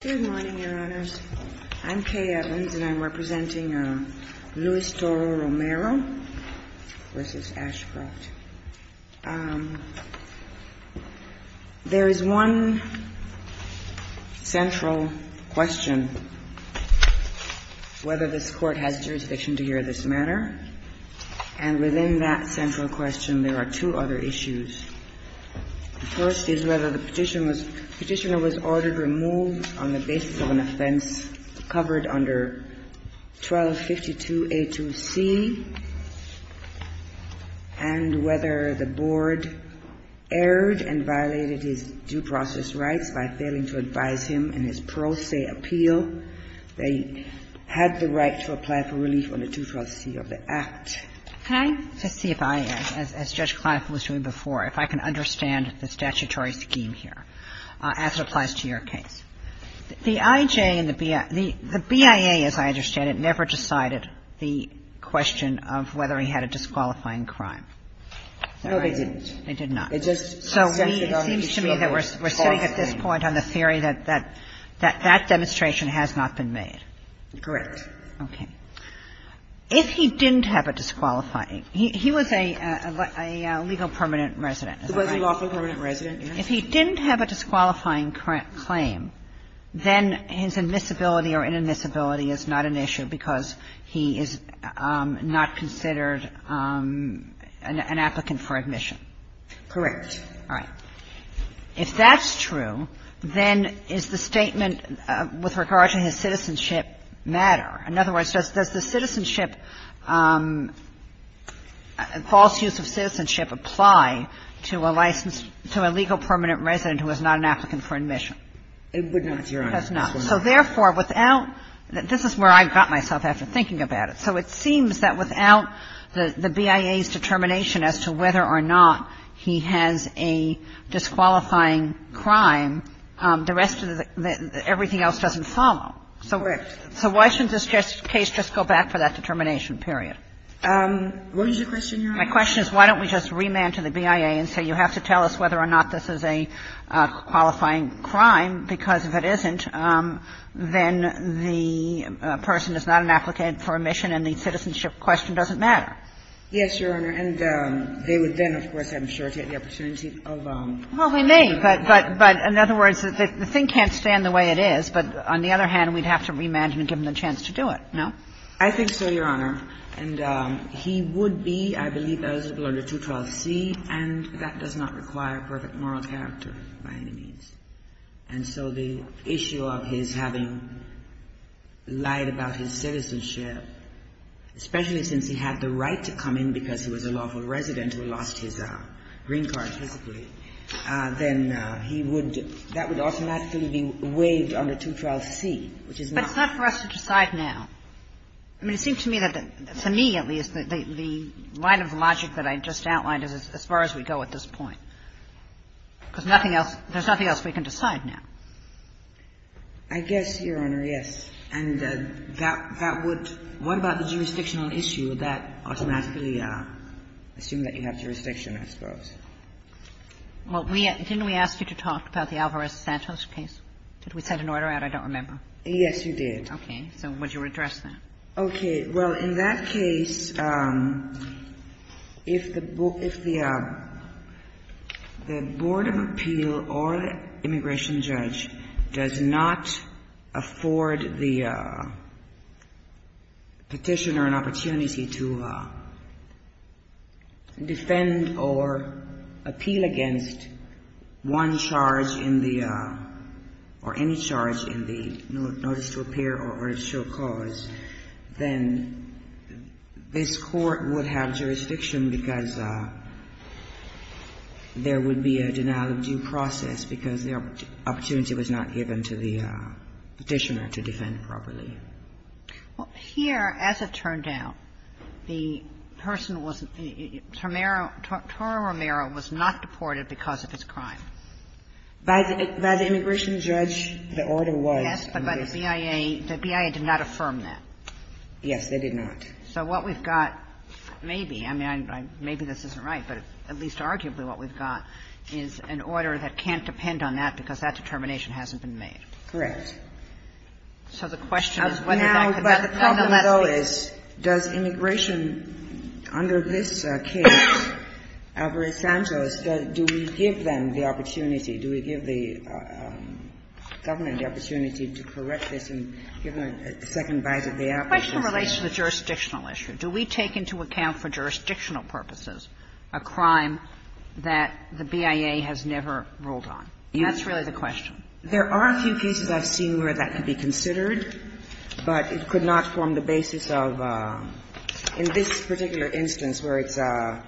Good morning, Your Honors. I'm Kay Evans, and I'm representing Luis Toro-Romero v. Ashcroft. There is one central question, whether this Court has jurisdiction to hear this matter. And within that central question, there are two other issues. The first is whether the Petitioner was ordered removed on the basis of an offense covered under 1252a2c, and whether the Board erred and violated his due process rights by failing to advise him in his pro se appeal that he had the right to apply for relief under 212c of the Act. Can I just see if I, as Judge Kleinfeld was doing before, if I can understand the statutory scheme here as it applies to your case? The IJ and the BIA – the BIA, as I understand it, never decided the question of whether he had a disqualifying crime. No, they didn't. It just suspended on a particular false claim. So it seems to me that we're sitting at this point on the theory that that demonstration has not been made. Correct. Okay. If he didn't have a disqualifying – he was a legal permanent resident, is that right? He was a lawful permanent resident, yes. If he didn't have a disqualifying claim, then his admissibility or inadmissibility is not an issue because he is not considered an applicant for admission. Correct. All right. If that's true, then is the statement with regard to his citizenship matter? In other words, does the citizenship – false use of citizenship apply to a licensed – to a legal permanent resident who is not an applicant for admission? It would not, Your Honor. It does not. So therefore, without – this is where I got myself after thinking about it. So it seems that without the BIA's determination as to whether or not he has a disqualifying crime, the rest of the – everything else doesn't follow. Correct. So why shouldn't this case just go back for that determination period? What is your question, Your Honor? My question is why don't we just remand to the BIA and say you have to tell us whether or not this is a qualifying crime, because if it isn't, then the person is not an applicant for admission and the citizenship question doesn't matter. Yes, Your Honor. And they would then, of course, I'm sure, take the opportunity of a – Well, they may, but in other words, the thing can't stand the way it is, but on the other hand, we'd have to remand him and give him the chance to do it, no? I think so, Your Honor. And he would be, I believe, eligible under 212C, and that does not require perfect moral character by any means. And so the issue of his having lied about his citizenship, especially since he had the right to come in because he was a lawful resident who lost his green card physically, then he would – that would automatically be waived under 212C, which is not the case. But it's not for us to decide now. I mean, it seems to me that the – for me, at least, the line of logic that I just outlined is as far as we go at this point, because nothing else – there's nothing else we can decide now. I guess, Your Honor, yes. And that would – what about the jurisdictional issue that automatically assumes that you have jurisdiction, I suppose? Well, we – didn't we ask you to talk about the Alvarez-Santos case? Did we send an order out? I don't remember. Yes, you did. Okay. So would you redress that? Okay. Well, in that case, if the – if the Board of Appeal or immigration judge does not afford the petitioner an opportunity to defend or appeal against one charge in the or any charge in the notice to appear or show cause, then this Court would have jurisdiction because there would be a denial-of-due process because the opportunity was not given to the petitioner to defend properly. Well, here, as it turned out, the person was – Romero – Toro Romero was not deported because of his crime. By the immigration judge, the order was – Yes, but by the BIA – the BIA did not affirm that. Yes, they did not. So what we've got maybe – I mean, maybe this isn't right, but at least arguably what we've got is an order that can't depend on that because that determination hasn't been made. So the question is whether that could – nonetheless, it's – Now, but the problem, though, is does immigration – under this case, Alvarez-Santos, do we give them the opportunity, do we give the government the opportunity to correct this and give them a second bite at the apple? The question relates to the jurisdictional issue. Do we take into account for jurisdictional purposes a crime that the BIA has never ruled on? That's really the question. There are a few cases I've seen where that could be considered, but it could not form the basis of – in this particular instance where it's a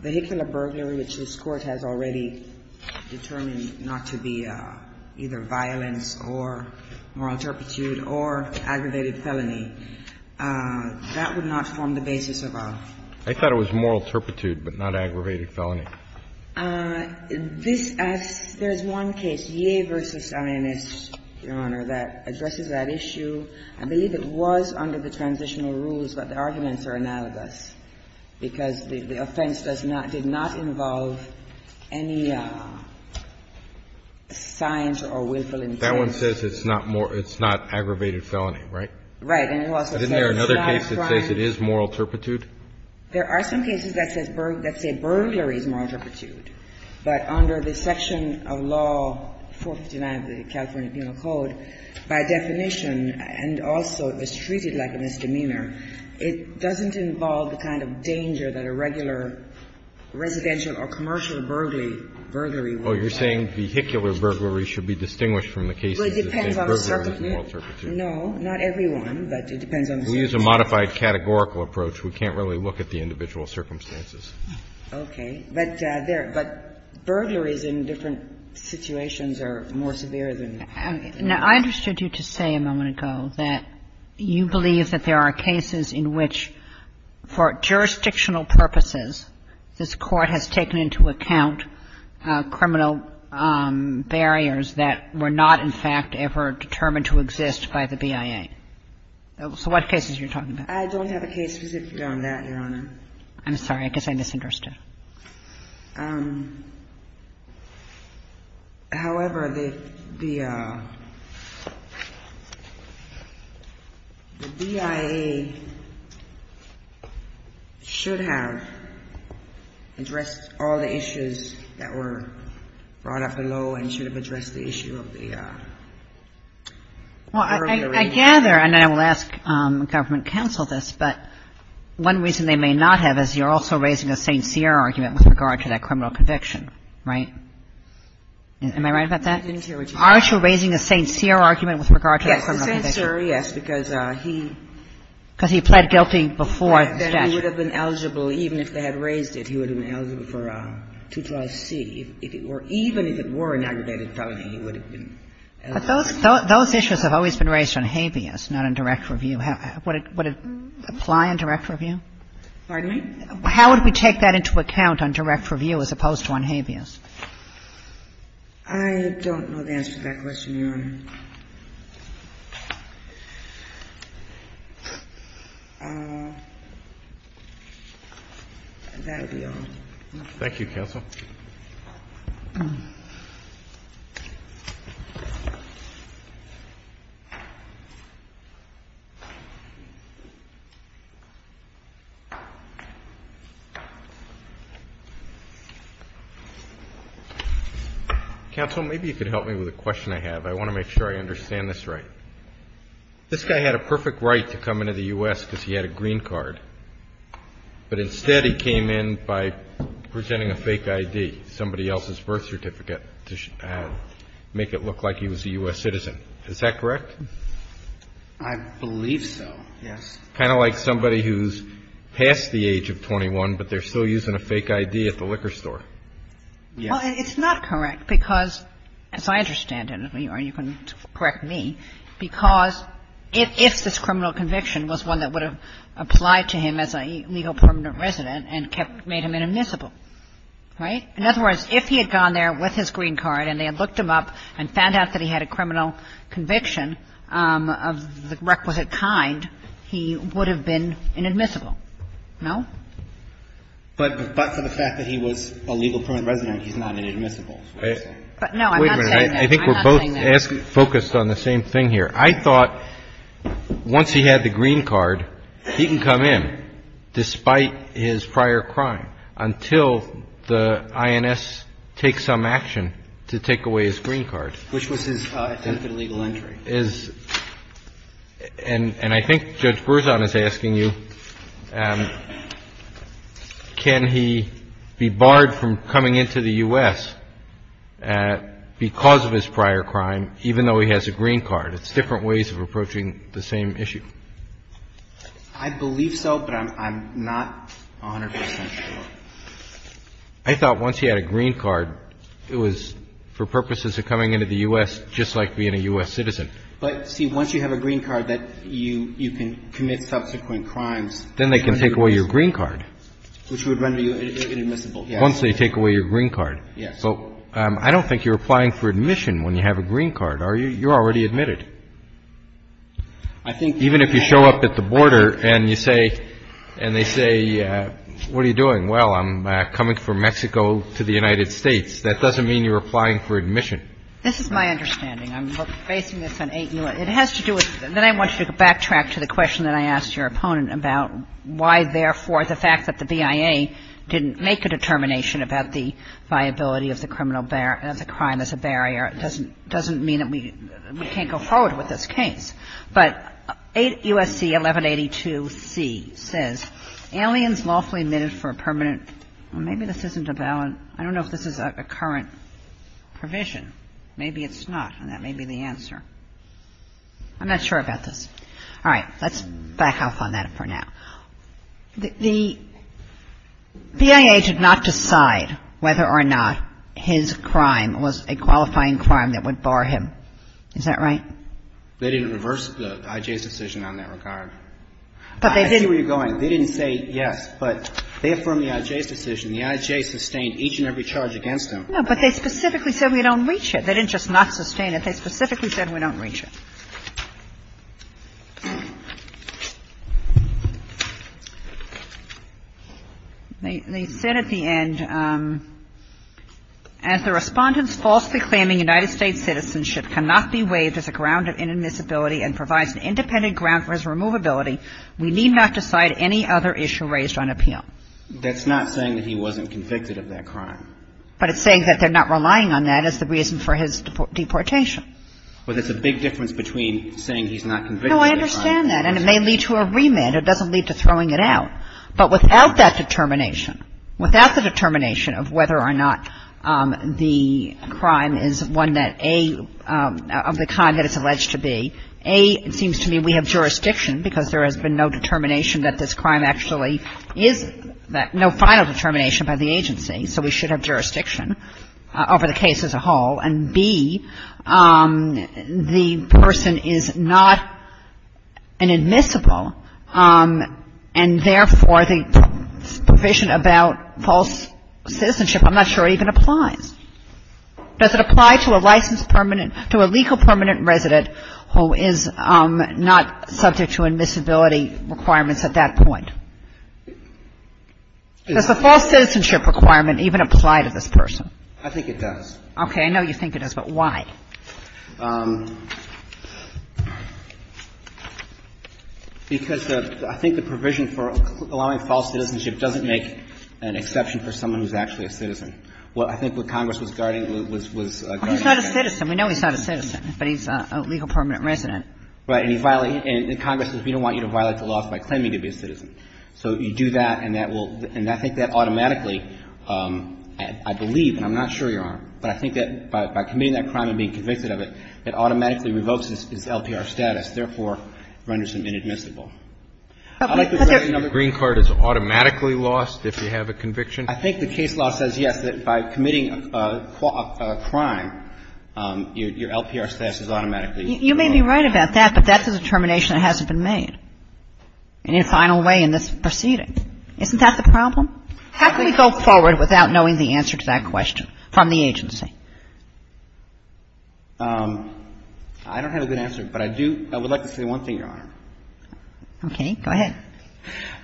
vehicular burglary, which this Court has already determined not to be either violence or moral turpitude or aggravated felony, that would not form the basis of a – I thought it was moral turpitude but not aggravated felony. This – there's one case, Ye versus Zionist, Your Honor, that addresses that issue. I believe it was under the transitional rules, but the arguments are analogous because the offense does not – did not involve any signs or willful intent. That one says it's not more – it's not aggravated felony, right? And it also says it's not a crime. Isn't there another case that says it is moral turpitude? There are some cases that says – that say burglary is moral turpitude. But under the section of law 459 of the California Penal Code, by definition, and also it's treated like a misdemeanor, it doesn't involve the kind of danger that a regular residential or commercial burglary would have. Oh, you're saying vehicular burglary should be distinguished from the case that says Well, it depends on the circumstance. No, not everyone, but it depends on the circumstance. We use a modified categorical approach. We can't really look at the individual circumstances. But there – but burglaries in different situations are more severe than that. Now, I understood you to say a moment ago that you believe that there are cases in which, for jurisdictional purposes, this Court has taken into account criminal barriers that were not, in fact, ever determined to exist by the BIA. So what cases are you talking about? I don't have a case specifically on that, Your Honor. I'm sorry. I guess I misunderstood. However, the BIA should have addressed all the issues that were brought up below and should have addressed the issue of the burglary. Well, I gather, and I will ask government counsel this, but one reason they may not have is you're also raising a St. Cyr argument with regard to that criminal conviction. Right? Am I right about that? I didn't hear what you said. Aren't you raising a St. Cyr argument with regard to that criminal conviction? Yes, a St. Cyr, yes, because he – Because he pled guilty before the statute. He would have been eligible, even if they had raised it, he would have been eligible for two-trials C. If it were – even if it were an aggravated felony, he would have been eligible. But those issues have always been raised on habeas, not on direct review. Would it apply on direct review? Pardon me? How would we take that into account on direct review as opposed to on habeas? I don't know the answer to that question, Your Honor. That would be all. Thank you, counsel. Counsel, maybe you could help me with a question I have. I want to make sure I understand this right. This guy had a perfect right to come into the U.S. because he had a green card. But instead he came in by presenting a fake I.D., somebody else's birth certificate, to make it look like he was a U.S. citizen. Is that correct? I believe so, yes. Kind of like somebody who's past the age of 21, but they're still using a fake I.D. at the liquor store. Well, it's not correct, because, as I understand it, and you can correct me, because if this criminal conviction was one that would have applied to him as a legal permanent resident and kept – made him inadmissible, right? In other words, if he had gone there with his green card and they had looked him up and found out that he had a criminal conviction of the requisite kind, he would have been inadmissible, no? But for the fact that he was a legal permanent resident, he's not inadmissible. But no, I'm not saying that. I think we're both focused on the same thing here. I thought once he had the green card, he can come in, despite his prior crime, until the INS takes some action to take away his green card. Which was his attempted illegal entry. And I think Judge Berzon is asking you, can he be barred from coming into the U.S. because of his prior crime, even though he has a green card? It's different ways of approaching the same issue. I believe so, but I'm not 100 percent sure. I thought once he had a green card, it was for purposes of coming into the U.S. just like being a U.S. citizen. But, see, once you have a green card, that you can commit subsequent crimes. Then they can take away your green card. Which would render you inadmissible, yes. Once they take away your green card. Yes. But I don't think you're applying for admission when you have a green card, are you? You're already admitted. I think even if you show up at the border and you say, and they say, what are you doing? Well, I'm coming from Mexico to the United States. That doesn't mean you're applying for admission. This is my understanding. I'm basing this on eight new ones. It has to do with, and then I want you to backtrack to the question that I asked your opponent about why, therefore, the fact that the BIA didn't make a determination about the viability of the criminal, of the crime as a barrier doesn't mean that we can't go forward with this case, but U.S.C. 1182c says, aliens lawfully admitted for a permanent or maybe this isn't a valid, I don't know if this is a current provision. Maybe it's not, and that may be the answer. I'm not sure about this. All right. Let's back off on that for now. The BIA did not decide whether or not his crime was a qualifying crime that would bar him. Is that right? They didn't reverse the I.J.'s decision on that regard. I see where you're going. They didn't say yes, but they affirmed the I.J.'s decision. The I.J. sustained each and every charge against him. No, but they specifically said we don't reach it. They didn't just not sustain it. They specifically said we don't reach it. They said at the end, as the Respondent's falsely claiming United States citizenship cannot be waived as a ground of inadmissibility and provides an independent ground for his removability, we need not decide any other issue raised on appeal. That's not saying that he wasn't convicted of that crime. But it's saying that they're not relying on that as the reason for his deportation. Well, there's a big difference between saying he's not convicted of that crime and he was not convicted. No, I understand that, and it may lead to a remand. It doesn't lead to throwing it out. But without that determination, without the determination of whether or not the crime is one that, A, of the kind that it's alleged to be, A, it seems to me we have jurisdiction because there has been no determination that this crime actually is, no final determination by the agency, so we should have jurisdiction over the case as a whole. And, B, the person is not inadmissible, and therefore, the provision about false citizenship I'm not sure even applies. Does it apply to a licensed permanent, to a legal permanent resident who is not subject to admissibility requirements at that point? Does the false citizenship requirement even apply to this person? I think it does. Okay. I know you think it does, but why? Because I think the provision for allowing false citizenship doesn't make an exception for someone who's actually a citizen. I think what Congress was guarding was a guarding mechanism. Well, he's not a citizen. We know he's not a citizen, but he's a legal permanent resident. Right. And Congress says we don't want you to violate the laws by claiming to be a citizen. So you do that, and that will – and I think that automatically, I believe, and I'm not sure you are, but I think that by committing that crime and being convicted of it, it automatically revokes his LPR status, therefore renders him inadmissible. I'd like to write another case. But the green card is automatically lost if you have a conviction? I think the case law says, yes, that by committing a crime, your LPR status is automatically lost. You may be right about that, but that's a determination that hasn't been made in any final way in this proceeding. Isn't that the problem? How can we go forward without knowing the answer to that question from the agency? I don't have a good answer, but I do – I would like to say one thing, Your Honor. Okay. Go ahead.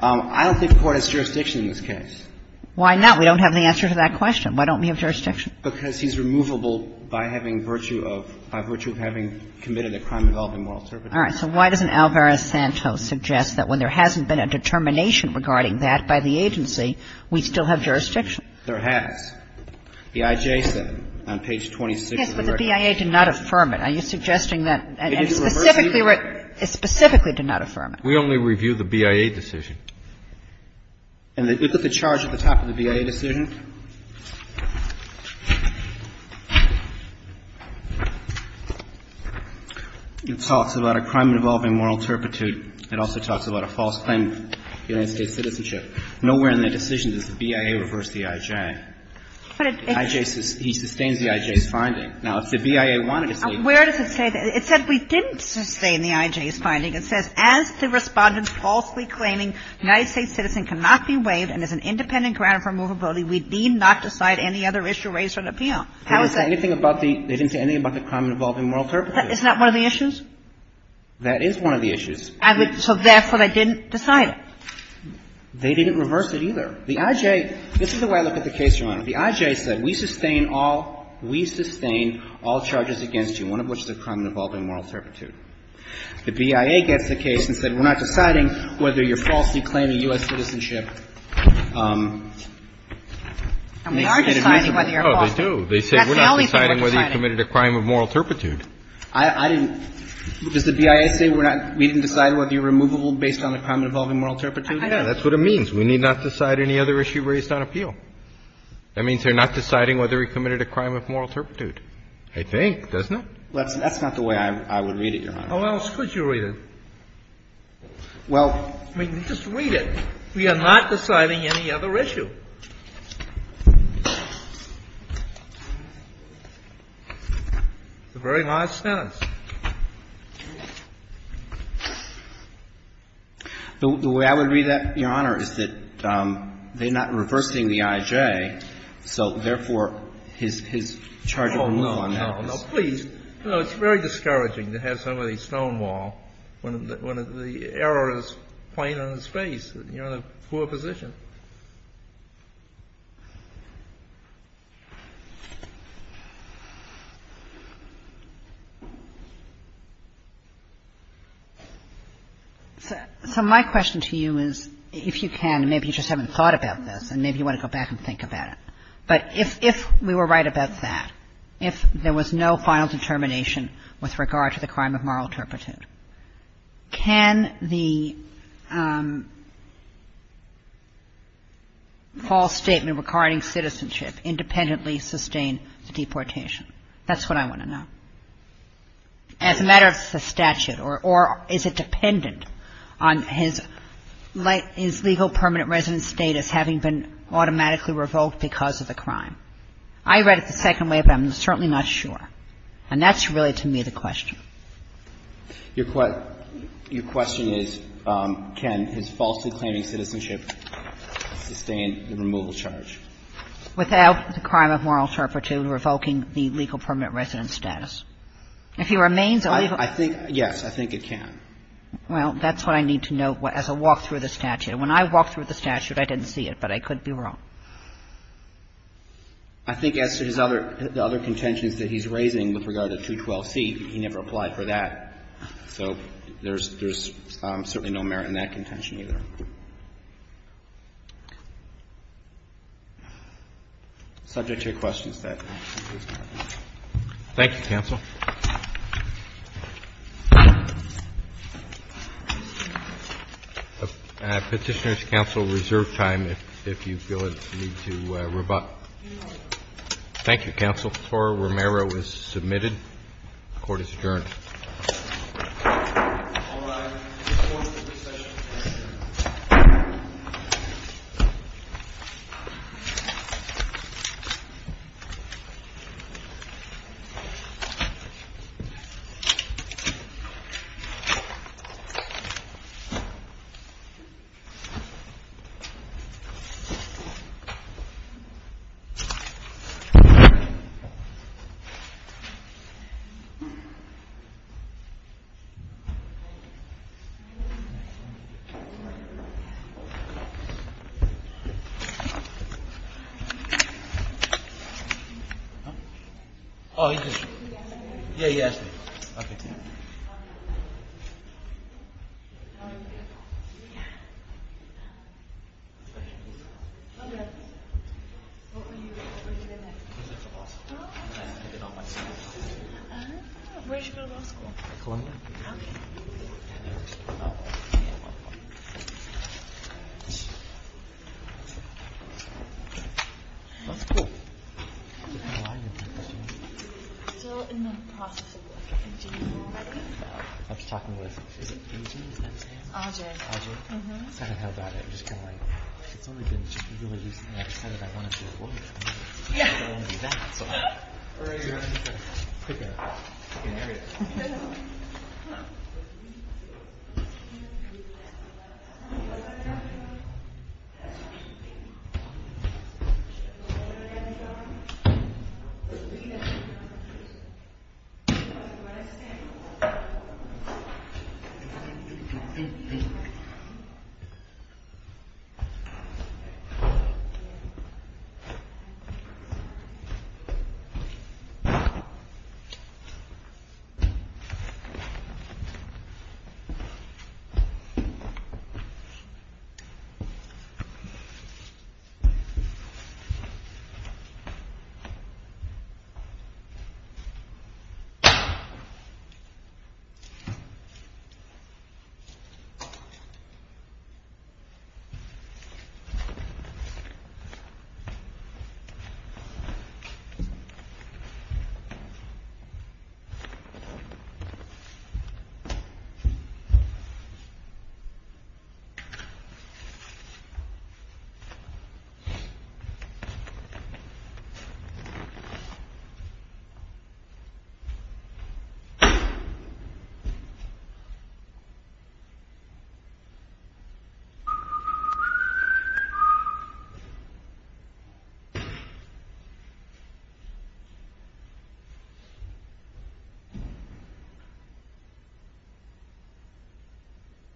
I don't think the Court has jurisdiction in this case. Why not? We don't have the answer to that question. Why don't we have jurisdiction? Because he's removable by having virtue of – by virtue of having committed a crime involving moral services. All right. So why doesn't Alvarez-Santos suggest that when there hasn't been a determination regarding that by the agency, we still have jurisdiction? There has. The IJ said on page 26 of the record. Yes, but the BIA did not affirm it. Are you suggesting that – and specifically – specifically did not affirm it? We only review the BIA decision. And the – look at the charge at the top of the BIA decision. It talks about a crime involving moral turpitude. It also talks about a false claim of United States citizenship. Nowhere in the decision does the BIA reverse the IJ. But it – The IJ – he sustains the IJ's finding. Now, if the BIA wanted to say – Where does it say – it said we didn't sustain the IJ's finding. It says, as the Respondent's falsely claiming United States citizen cannot be waived and is an independent ground for movability, we need not decide any other issue raised on appeal. How is that? They didn't say anything about the – they didn't say anything about the crime involving moral turpitude. Isn't that one of the issues? That is one of the issues. I would – so therefore, they didn't decide it. They didn't reverse it either. The IJ – this is the way I look at the case, Your Honor. The IJ said we sustain all – we sustain all charges against you, one of which is a crime involving moral turpitude. The BIA gets the case and said we're not deciding whether you're falsely claiming U.S. citizenship. And we are deciding whether you're falsely claiming. Oh, they do. They say we're not deciding whether you committed a crime of moral turpitude. I didn't – does the BIA say we're not – we didn't decide whether you're removable based on a crime involving moral turpitude? I know. That's what it means. We need not decide any other issue raised on appeal. That means they're not deciding whether you committed a crime of moral turpitude. They think, doesn't it? That's not the way I would read it, Your Honor. How else could you read it? Well – I mean, just read it. We are not deciding any other issue. It's a very large sentence. The way I would read that, Your Honor, is that they're not reversing the IJ, so therefore his charge of removal on that is – No, no, please. No, it's very discouraging to have somebody stonewall when the error is plain on his face. You're in a poor position. So my question to you is, if you can, maybe you just haven't thought about this, and maybe you want to go back and think about it, but if we were right about that, if there was no final determination with regard to the crime of moral turpitude, can the false statement regarding citizenship independently sustain the deportation? That's what I want to know. As a matter of statute, or is it dependent on his legal permanent residence status having been automatically revoked because of the crime? I read it the second way, but I'm certainly not sure. And that's really, to me, the question. Your question is, can his falsely claiming citizenship sustain the removal charge? Without the crime of moral turpitude revoking the legal permanent residence status. If he remains a legal – I think – yes, I think it can. Well, that's what I need to note as I walk through the statute. And when I walked through the statute, I didn't see it, but I could be wrong. I think as to his other – the other contentions that he's raising with regard to 212c, he never applied for that. So there's – there's certainly no merit in that contention either. Subject to your questions, that concludes my time. Roberts. Thank you, counsel. Petitioners, counsel, reserve time if you feel the need to rebut. Thank you, counsel. Flora Romero is submitted. The Court is adjourned. All rise. This court is at recessional time. Oh, he's just – yeah, he asked me. Okay, thank you. Where did you go to law school? Columbia. Okay. I'm still in the process of looking for a dean. I was talking with – who's your name again? Audrey. Audrey? Mm-hmm. I don't know about it. I'm just kind of like, it's only been – it's really just the next time that I want to do a lawyer's thing, I don't want to do that. So I'm – Okay. Thank you. Thank you.